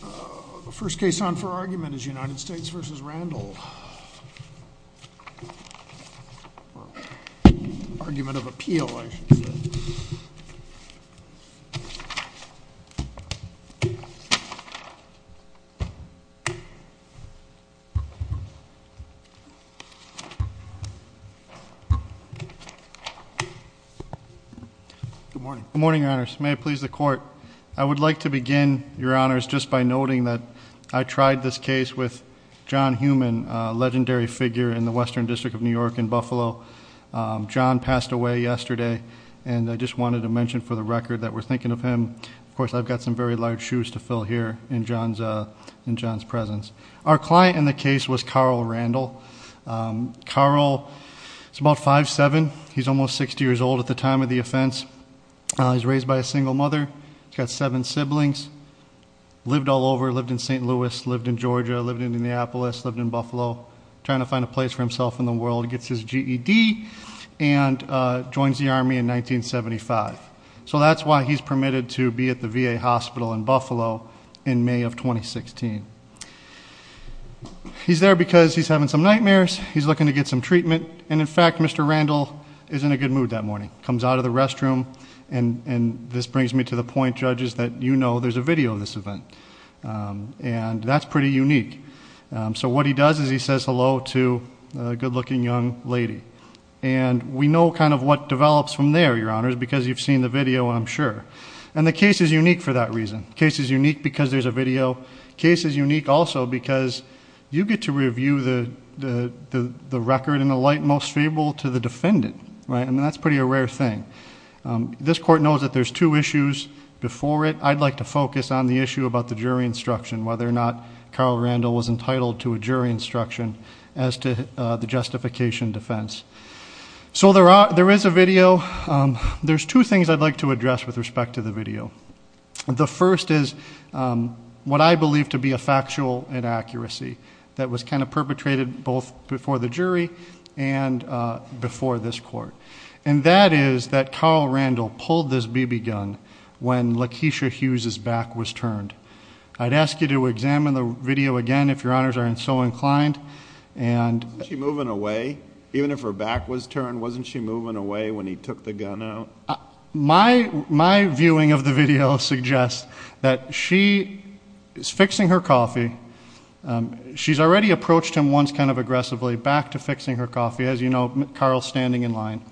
The first case on for argument is United States v. Randall. Argument of appeal, I should say. Good morning. Good morning, Your Honors. May it please the Court. I would like to begin, Your Honors, just by noting that I tried this case with John Heumann, a legendary figure in the Western District of New York in Buffalo. John passed away yesterday, and I just wanted to mention for the record that we're thinking of him. Of course, I've got some very large shoes to fill here in John's presence. Our client in the case was Carl Randall. Carl is about 5'7". He's almost 60 years old at the time of the offense. He's raised by a single mother. He's got seven siblings. Lived all over. Lived in St. Louis. Lived in Georgia. Lived in Indianapolis. Lived in Buffalo. Trying to find a place for himself in the world. Gets his GED and joins the Army in 1975. So that's why he's permitted to be at the VA hospital in Buffalo in May of 2016. He's there because he's having some nightmares. He's looking to get some treatment. And, in fact, Mr. Randall is in a good mood that morning. Comes out of the restroom. And this brings me to the point, judges, that you know there's a video of this event. And that's pretty unique. So what he does is he says hello to a good-looking young lady. And we know kind of what develops from there, Your Honors, because you've seen the video, I'm sure. And the case is unique for that reason. The case is unique because there's a video. The case is unique also because you get to review the record in the light most favorable to the defendant. And that's pretty a rare thing. This court knows that there's two issues before it. I'd like to focus on the issue about the jury instruction, whether or not Carl Randall was entitled to a jury instruction as to the justification defense. So there is a video. There's two things I'd like to address with respect to the video. The first is what I believe to be a factual inaccuracy that was kind of perpetrated both before the jury and before this court. And that is that Carl Randall pulled this BB gun when Lakeisha Hughes' back was turned. I'd ask you to examine the video again, if Your Honors aren't so inclined. Wasn't she moving away? Even if her back was turned, wasn't she moving away when he took the gun out? My viewing of the video suggests that she is fixing her coffee. She's already approached him once kind of aggressively, back to fixing her coffee. As you know, Carl's standing in line.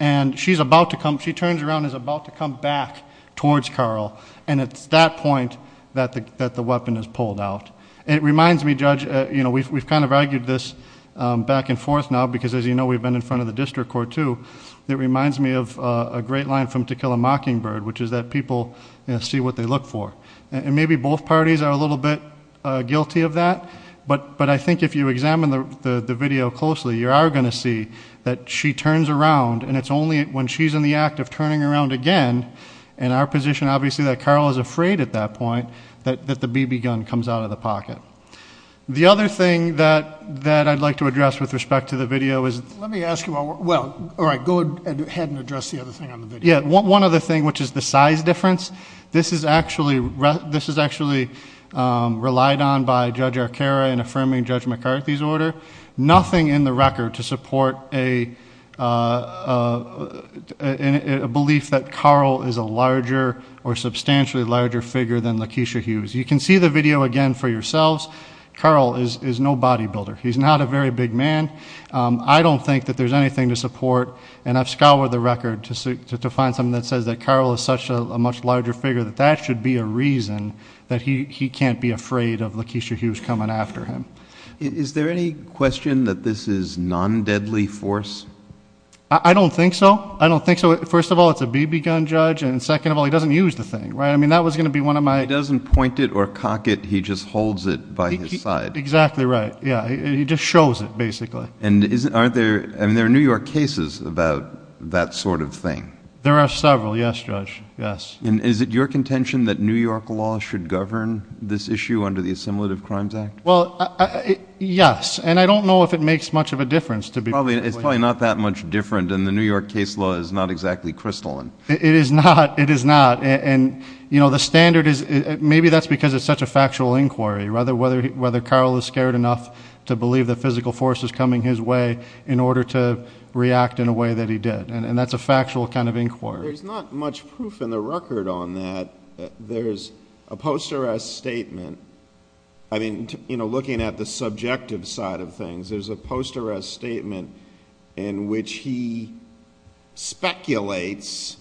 And she's about to come. She turns around and is about to come back towards Carl. And it's at that point that the weapon is pulled out. It reminds me, Judge, you know, we've kind of argued this back and forth now because, as you know, we've been in front of the district court, too, that it reminds me of a great line from To Kill a Mockingbird, which is that people see what they look for. And maybe both parties are a little bit guilty of that. But I think if you examine the video closely, you are going to see that she turns around, and it's only when she's in the act of turning around again, in our position, obviously, that Carl is afraid at that point that the BB gun comes out of the pocket. The other thing that I'd like to address with respect to the video is the size difference. This is actually relied on by Judge Arcaro in affirming Judge McCarthy's order. Nothing in the record to support a belief that Carl is a larger or substantially larger figure than Lakeisha Hughes. You can see the video again for yourselves. Carl is no bodybuilder. He's not a very big man. I don't think that there's anything to support. And I've scoured the record to find something that says that Carl is such a much larger figure that that should be a reason that he can't be afraid of Lakeisha Hughes coming after him. Is there any question that this is non-deadly force? I don't think so. I don't think so. First of all, it's a BB gun, Judge. And second of all, he doesn't use the thing. Right? I mean, that was going to be one of my He doesn't point it or cock it. He just holds it by his side. Exactly right. Yeah. He just shows it, basically. And there are New York cases about that sort of thing. There are several. Yes, Judge. Yes. And is it your contention that New York law should govern this issue under the Assimilative Crimes Act? Well, yes. And I don't know if it makes much of a difference to be perfectly honest. It's probably not that much different. And the New York case law is not exactly crystalline. It is not. It is not. And, you know, the standard is maybe that's because it's such a factual inquiry, whether Carl is scared enough to believe the physical force is coming his way in order to react in a way that he did. And that's a factual kind of inquiry. There's not much proof in the record on that. There's a post-arrest statement. I mean, you know, looking at the subjective side of things, there's a post-arrest statement in which he speculates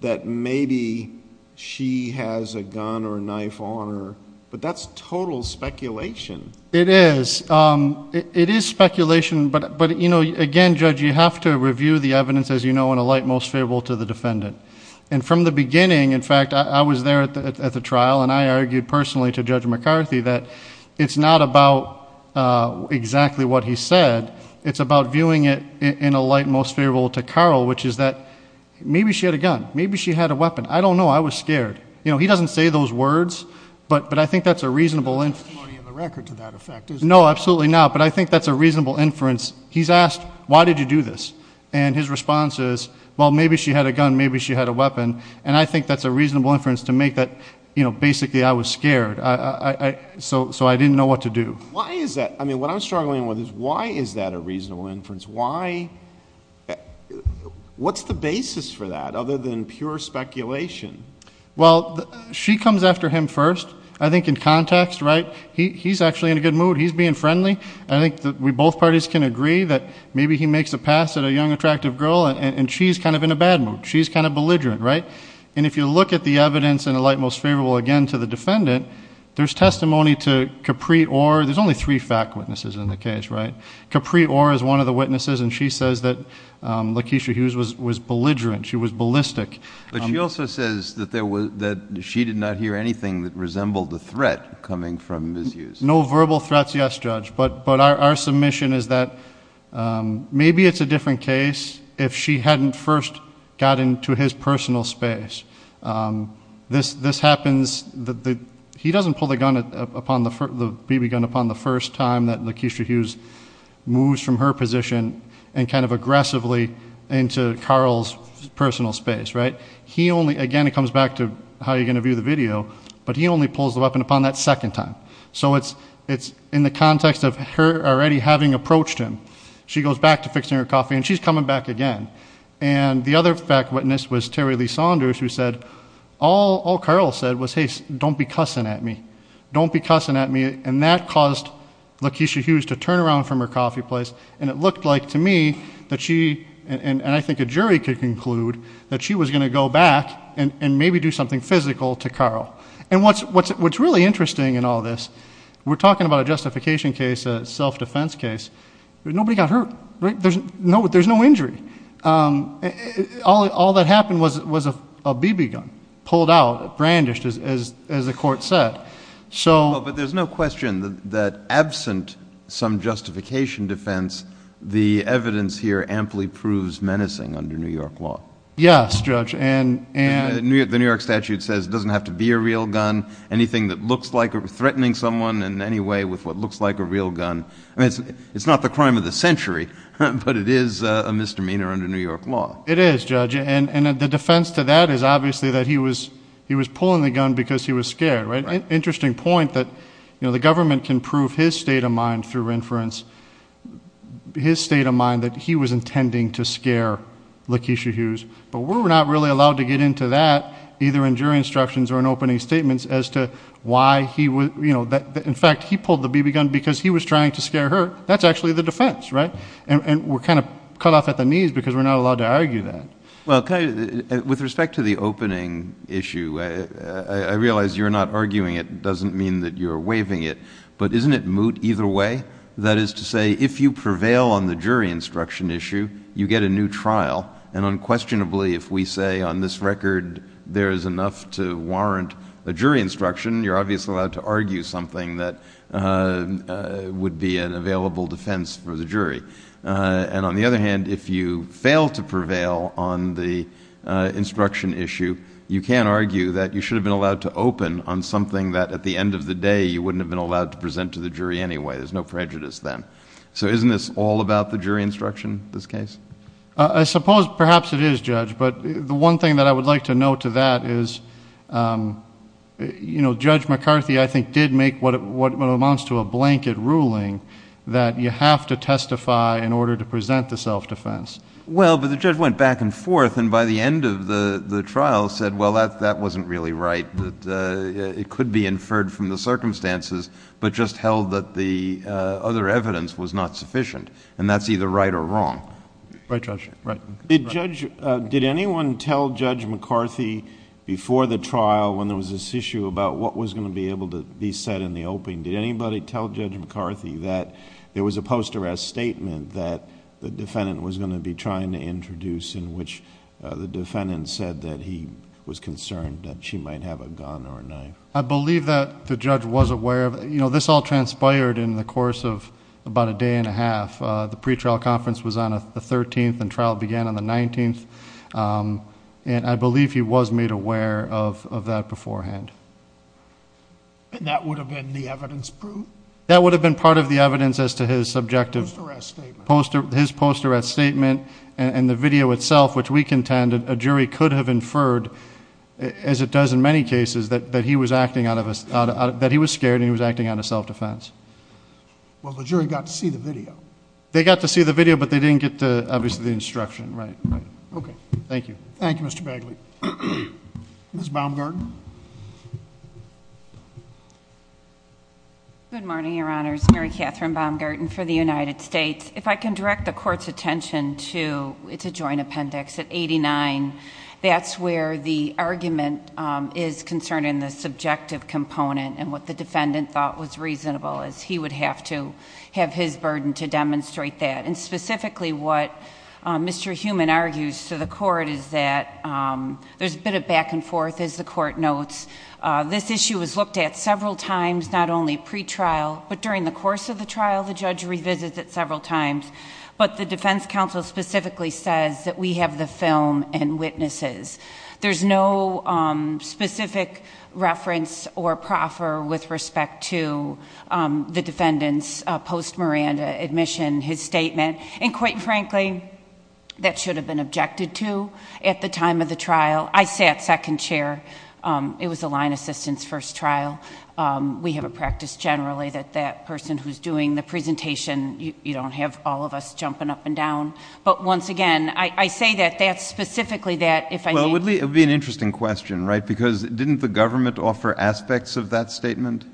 that maybe she has a gun or a knife on her. But that's total speculation. It is. It is speculation. But, you know, again, Judge, you have to review the evidence, as you know, and alight most favorable to the defendant. And from the beginning, in fact, I was there at the trial, and I argued personally to Judge McCarthy that it's not about exactly what he said. It's about viewing it in alight most favorable to Carl, which is that maybe she had a gun. Maybe she had a weapon. I don't know. I was scared. You know, he doesn't say those words, but I think that's a reasonable inference. There's no testimony in the record to that effect, is there? No, absolutely not. But I think that's a reasonable inference. He's asked, why did you do this? And his response is, well, maybe she had a gun, maybe she had a weapon. And I think that's a reasonable inference to make that, you know, basically I was scared. So I didn't know what to do. Why is that? I mean, what I'm struggling with is why is that a reasonable inference? Why? What's the basis for that other than pure speculation? Well, she comes after him first. I think in context, right, he's actually in a good mood. He's being friendly. I think that we both parties can agree that maybe he makes a pass at a young, attractive girl, and she's kind of in a bad mood. She's kind of belligerent, right? And if you look at the evidence in the light most favorable, again, to the defendant, there's testimony to Capri Orr. There's only three fact witnesses in the case, right? Capri Orr is one of the witnesses, and she says that Lakeisha Hughes was belligerent. She was ballistic. But she also says that she did not hear anything that resembled a threat coming from Ms. Hughes. No verbal threats, yes, Judge. But our submission is that maybe it's a different case if she hadn't first got into his personal space. This happens. He doesn't pull the BB gun upon the first time that Lakeisha Hughes moves from her position and kind of aggressively into Carl's personal space, right? He only, again, it comes back to how you're going to view the video, but he only pulls the weapon upon that second time. So it's in the context of her already having approached him. She goes back to fixing her coffee, and she's coming back again. And the other fact witness was Terry Lee Saunders who said, all Carl said was, hey, don't be cussing at me. Don't be cussing at me. And that caused Lakeisha Hughes to turn around from her coffee place, and it looked like to me that she, and I think a jury could conclude, that she was going to go back and maybe do something physical to Carl. And what's really interesting in all this, we're talking about a justification case, a self-defense case. Nobody got hurt, right? There's no injury. All that happened was a BB gun pulled out, brandished, as the court said. But there's no question that absent some justification defense, the evidence here amply proves menacing under New York law. Yes, Judge. The New York statute says it doesn't have to be a real gun. Anything that looks like threatening someone in any way with what looks like a real gun, it's not the crime of the century, but it is a misdemeanor under New York law. It is, Judge. And the defense to that is obviously that he was pulling the gun because he was scared. Interesting point that the government can prove his state of mind through inference, his state of mind that he was intending to scare Lakeisha Hughes. But we're not really allowed to get into that, either in jury instructions or in opening statements, as to why he would, you know, in fact, he pulled the BB gun because he was trying to scare her. That's actually the defense, right? And we're kind of cut off at the knees because we're not allowed to argue that. Well, with respect to the opening issue, I realize you're not arguing it. It doesn't mean that you're waiving it. But isn't it moot either way? That is to say, if you prevail on the jury instruction issue, you get a new trial. And unquestionably, if we say on this record there is enough to warrant a jury instruction, you're obviously allowed to argue something that would be an available defense for the jury. And on the other hand, if you fail to prevail on the instruction issue, you can argue that you should have been allowed to open on something that at the end of the day you wouldn't have been allowed to present to the jury anyway. There's no prejudice then. So isn't this all about the jury instruction, this case? I suppose perhaps it is, Judge. But the one thing that I would like to note to that is Judge McCarthy, I think, did make what amounts to a blanket ruling that you have to testify in order to present the self-defense. Well, but the judge went back and forth, and by the end of the trial said, well, that wasn't really right, that it could be inferred from the circumstances but just held that the other evidence was not sufficient. And that's either right or wrong. Right, Judge. Did anyone tell Judge McCarthy before the trial when there was this issue about what was going to be able to be said in the opening, did anybody tell Judge McCarthy that there was a post-arrest statement that the defendant was going to be trying to introduce in which the defendant said that he was concerned that she might have a gun or a knife? I believe that the judge was aware of it. You know, this all transpired in the course of about a day and a half. The pretrial conference was on the 13th and trial began on the 19th, and I believe he was made aware of that beforehand. And that would have been the evidence proved? That would have been part of the evidence as to his subjective post-arrest statement, and the video itself, which we contend a jury could have inferred, as it does in many cases, that he was scared and he was acting out of self-defense. Well, the jury got to see the video. They got to see the video, but they didn't get, obviously, the instruction. Right, right. Okay. Thank you. Thank you, Mr. Bagley. Ms. Baumgarten. Good morning, Your Honors. Mary Catherine Baumgarten for the United States. If I can direct the court's attention to the joint appendix at 89, that's where the argument is concerning the subjective component and what the defendant thought was reasonable, as he would have to have his burden to demonstrate that. And specifically what Mr. Heumann argues to the court is that there's a bit of back and forth, as the court notes. This issue was looked at several times, not only pretrial, but during the course of the trial, the judge revisits it several times. But the defense counsel specifically says that we have the film and witnesses. There's no specific reference or proffer with respect to the defendant's post-Miranda admission, his statement. And quite frankly, that should have been objected to at the time of the trial. I sat second chair. It was a line assistance first trial. We have a practice generally that that person who's doing the presentation, you don't have all of us jumping up and down. But once again, I say that that's specifically that, if I may. Well, it would be an interesting question, right? Because didn't the government offer aspects of that statement?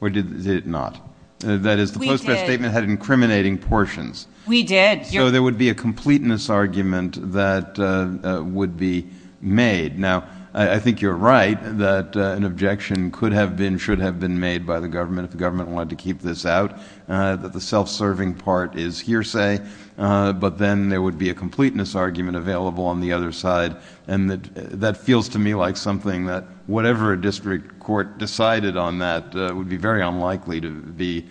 Or did it not? We did. That is, the post-trial statement had incriminating portions. We did. So there would be a completeness argument that would be made. Now, I think you're right that an objection could have been, should have been made by the government if the government wanted to keep this out. That the self-serving part is hearsay. But then there would be a completeness argument available on the other side. And that feels to me like something that whatever a district court decided on that would be very unlikely to be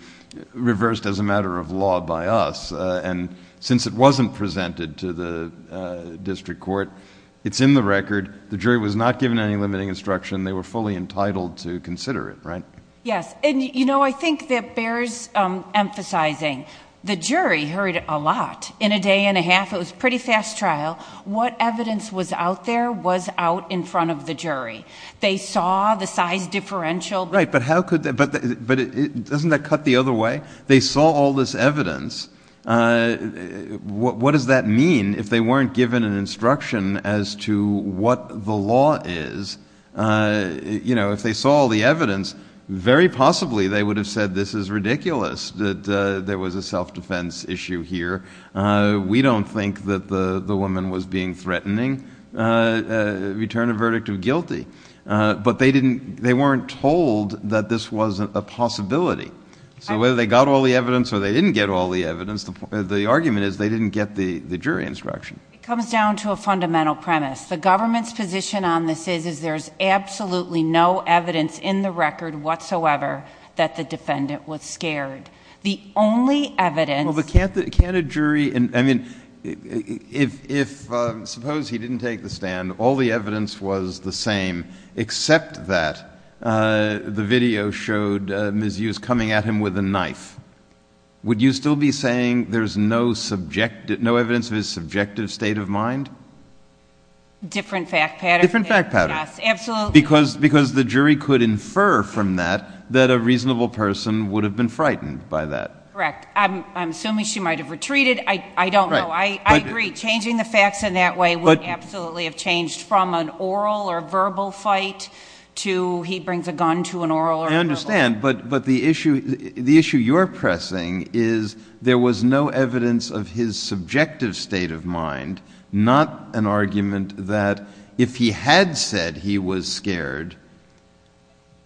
reversed as a matter of law by us. And since it wasn't presented to the district court, it's in the record. The jury was not given any limiting instruction. They were fully entitled to consider it, right? Yes. And, you know, I think that bears emphasizing. The jury heard a lot in a day and a half. It was a pretty fast trial. What evidence was out there was out in front of the jury. They saw the size differential. Right. But how could they? But doesn't that cut the other way? They saw all this evidence. What does that mean if they weren't given an instruction as to what the law is? You know, if they saw all the evidence, very possibly they would have said this is ridiculous. That there was a self-defense issue here. We don't think that the woman was being threatening. Return a verdict of guilty. But they didn't, they weren't told that this was a possibility. So whether they got all the evidence or they didn't get all the evidence, the argument is they didn't get the jury instruction. It comes down to a fundamental premise. The government's position on this is, is there's absolutely no evidence in the record whatsoever that the defendant was scared. The only evidence. Well, but can't a jury, I mean, if, suppose he didn't take the stand, and all the evidence was the same except that the video showed Mizzou's coming at him with a knife, would you still be saying there's no evidence of his subjective state of mind? Different fact pattern. Different fact pattern. Yes, absolutely. Because the jury could infer from that that a reasonable person would have been frightened by that. Correct. I'm assuming she might have retreated. I don't know. I agree. Changing the facts in that way would absolutely have changed from an oral or verbal fight to he brings a gun to an oral or verbal fight. I understand. But the issue you're pressing is there was no evidence of his subjective state of mind, not an argument that if he had said he was scared,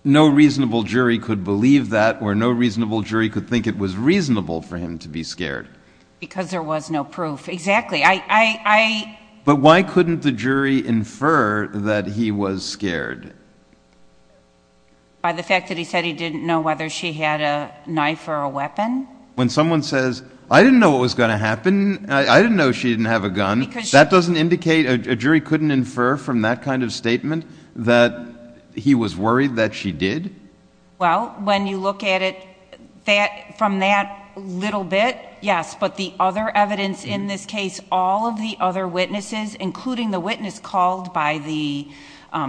no reasonable jury could believe that or no reasonable jury could think it was reasonable for him to be scared. Because there was no proof. Exactly. But why couldn't the jury infer that he was scared? By the fact that he said he didn't know whether she had a knife or a weapon. When someone says, I didn't know what was going to happen, I didn't know she didn't have a gun, that doesn't indicate a jury couldn't infer from that kind of statement that he was worried that she did? Well, when you look at it from that little bit, yes. But the other evidence in this case, all of the other witnesses, including the witness called by the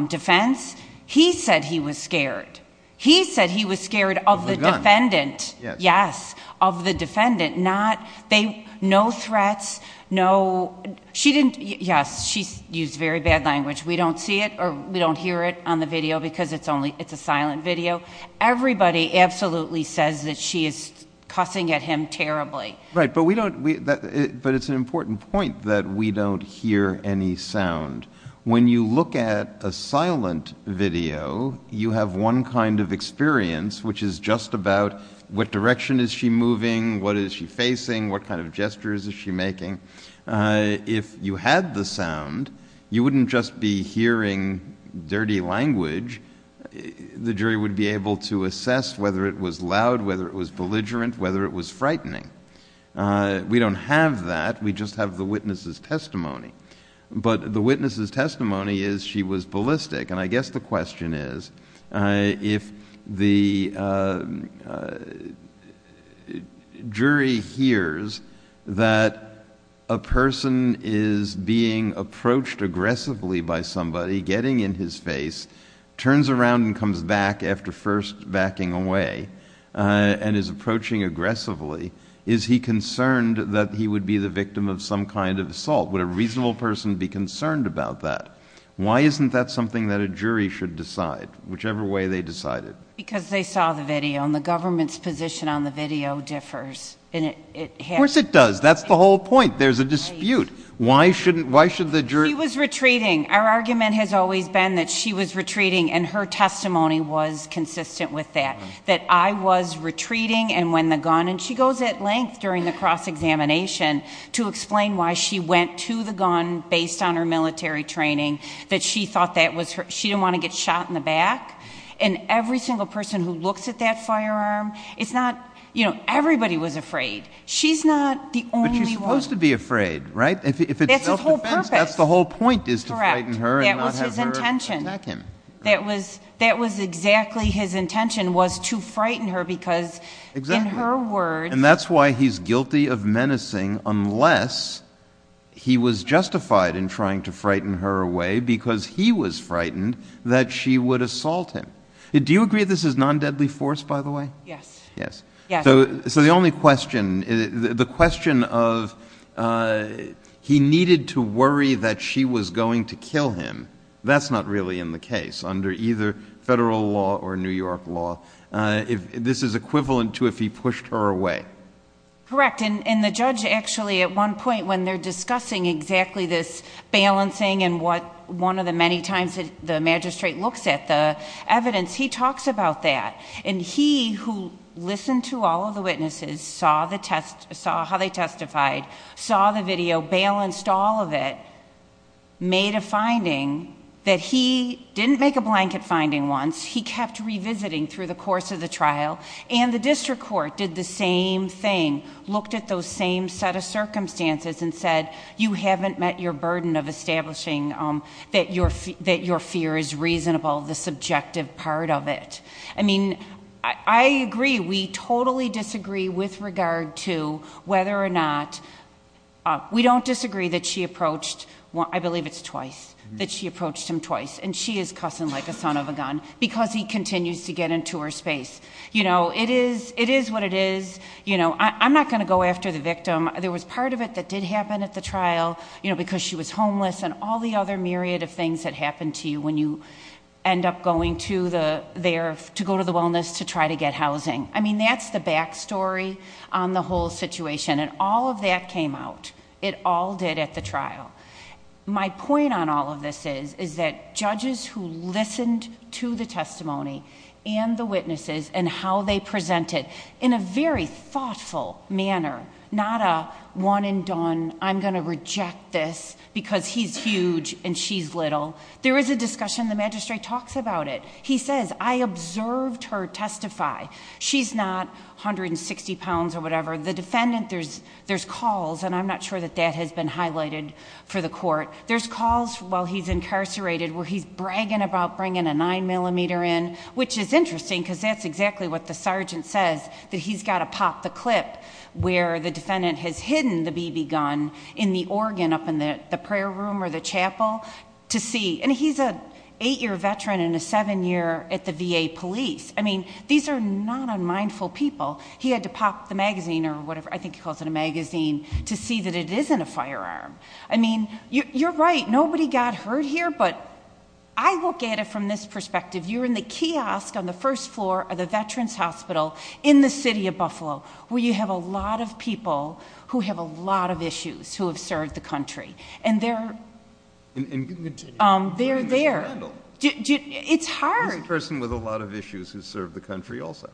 defense, he said he was scared. He said he was scared of the defendant. Of the gun. Yes. Of the defendant. No threats, no... Yes, she used very bad language. We don't see it or we don't hear it on the video because it's a silent video. Everybody absolutely says that she is cussing at him terribly. Right, but it's an important point that we don't hear any sound. When you look at a silent video, you have one kind of experience, which is just about what direction is she moving, what is she facing, what kind of gestures is she making. If you had the sound, you wouldn't just be hearing dirty language. The jury would be able to assess whether it was loud, whether it was belligerent, whether it was frightening. We don't have that. We just have the witness's testimony. But the witness's testimony is she was ballistic. I guess the question is, if the jury hears that a person is being approached aggressively by somebody, getting in his face, turns around and comes back after first backing away, and is approaching aggressively, is he concerned that he would be the victim of some kind of assault? Would a reasonable person be concerned about that? Why isn't that something that a jury should decide, whichever way they decide it? Because they saw the video, and the government's position on the video differs. Of course it does. That's the whole point. There's a dispute. Why should the jury— She was retreating. Our argument has always been that she was retreating, and her testimony was consistent with that, that I was retreating and when the gun—and she goes at length during the cross-examination to explain why she went to the gun based on her military training, that she thought that was her— she didn't want to get shot in the back. And every single person who looks at that firearm, it's not—you know, everybody was afraid. She's not the only one. But she's supposed to be afraid, right? That's his whole purpose. If it's self-defense, that's the whole point, is to frighten her and not have her attack him. That was his intention. That was exactly his intention, was to frighten her because, in her words— unless he was justified in trying to frighten her away because he was frightened that she would assault him. Do you agree this is non-deadly force, by the way? Yes. Yes. So the only question—the question of he needed to worry that she was going to kill him, that's not really in the case under either federal law or New York law. This is equivalent to if he pushed her away. Correct. And the judge actually, at one point, when they're discussing exactly this balancing and what one of the many times the magistrate looks at the evidence, he talks about that. And he, who listened to all of the witnesses, saw how they testified, saw the video, balanced all of it, made a finding that he didn't make a blanket finding once. He kept revisiting through the course of the trial. And the district court did the same thing, looked at those same set of circumstances and said, you haven't met your burden of establishing that your fear is reasonable, the subjective part of it. I mean, I agree, we totally disagree with regard to whether or not—we don't disagree that she approached, I believe it's twice, that she approached him twice, and she is cussing like a son of a gun because he continues to get into her space. It is what it is. I'm not going to go after the victim. There was part of it that did happen at the trial because she was homeless and all the other myriad of things that happen to you when you end up going to go to the wellness to try to get housing. I mean, that's the back story on the whole situation, and all of that came out. It all did at the trial. My point on all of this is that judges who listened to the testimony and the witnesses and how they presented in a very thoughtful manner, not a one and done, I'm going to reject this because he's huge and she's little. There is a discussion, the magistrate talks about it. He says, I observed her testify. She's not 160 pounds or whatever. The defendant, there's calls, and I'm not sure that that has been highlighted for the court. There's calls while he's incarcerated where he's bragging about bringing a nine millimeter in, which is interesting because that's exactly what the sergeant says, that he's got to pop the clip where the defendant has hidden the BB gun in the organ up in the prayer room or the chapel to see. He's an eight-year veteran and a seven-year at the VA police. I mean, these are not unmindful people. He had to pop the magazine or whatever, I think he calls it a magazine, to see that it isn't a firearm. I mean, you're right. Nobody got hurt here, but I look at it from this perspective. You're in the kiosk on the first floor of the Veterans Hospital in the city of Buffalo where you have a lot of people who have a lot of issues who have served the country, and they're there. It's hard. She's a person with a lot of issues who served the country also.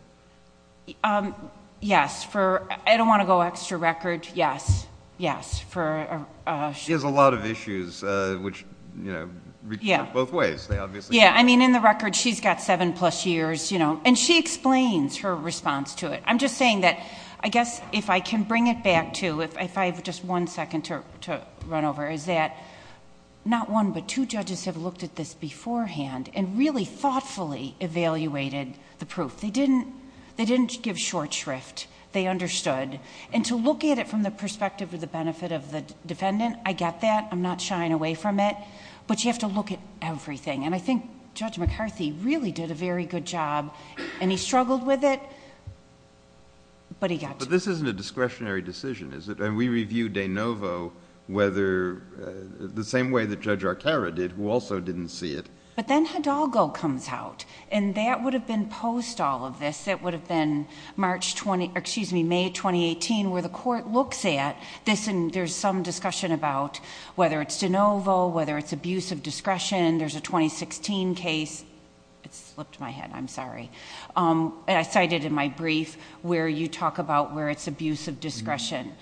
Yes. I don't want to go extra record. Yes. Yes. She has a lot of issues, which, you know, both ways. Yeah. I mean, in the record, she's got seven plus years, you know, and she explains her response to it. I'm just saying that I guess if I can bring it back to, if I have just one second to run over, is that not one but two judges have looked at this beforehand and really thoughtfully evaluated the proof. They didn't give short shrift. They understood. To look at it from the perspective of the benefit of the defendant, I get that. I'm not shying away from it, but you have to look at everything. I think Judge McCarthy really did a very good job, and he struggled with it, but he got to it. But this isn't a discretionary decision, is it? We reviewed De Novo the same way that Judge Arcaro did, who also didn't see it. But then Hidalgo comes out, and that would have been post all of this. It would have been May 2018 where the court looks at this, and there's some discussion about whether it's De Novo, whether it's abuse of discretion. There's a 2016 case. It slipped my head. I'm sorry. I cite it in my brief where you talk about where it's abuse of discretion.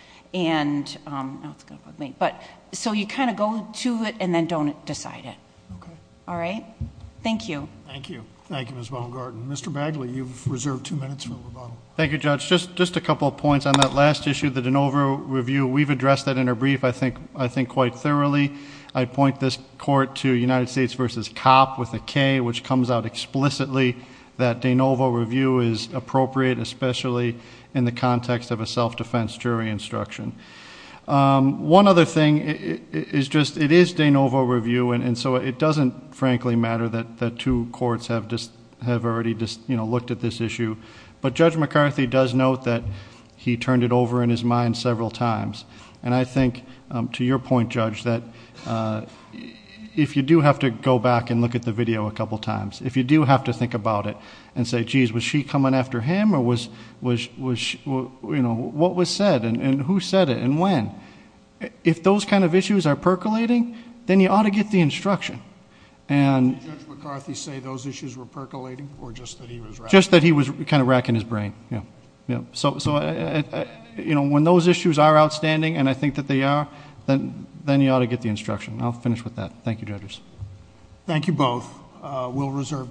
So you kind of go to it and then don't decide it. All right? Thank you. Thank you. Thank you, Ms. Baumgarten. Mr. Bagley, you've reserved two minutes for rebuttal. Thank you, Judge. Just a couple of points on that last issue, the De Novo review. We've addressed that in our brief, I think, quite thoroughly. I point this court to United States v. Copp with a K, which comes out explicitly that De Novo review is appropriate, especially in the context of a self-defense jury instruction. One other thing is just it is De Novo review, and so it doesn't frankly matter that two courts have already looked at this issue. But Judge McCarthy does note that he turned it over in his mind several times. I think, to your point, Judge, that if you do have to go back and look at the video a couple of times, if you do have to think about it and say, geez, was she coming after him, or what was said, and who said it, and when, if those kind of issues are percolating, then you ought to get the instruction. Did Judge McCarthy say those issues were percolating, or just that he was... Just that he was kind of racking his brain. When those issues are outstanding, and I think that they are, then you ought to get the instruction. I'll finish with that. Thank you, judges. Thank you both. We'll reserve decision.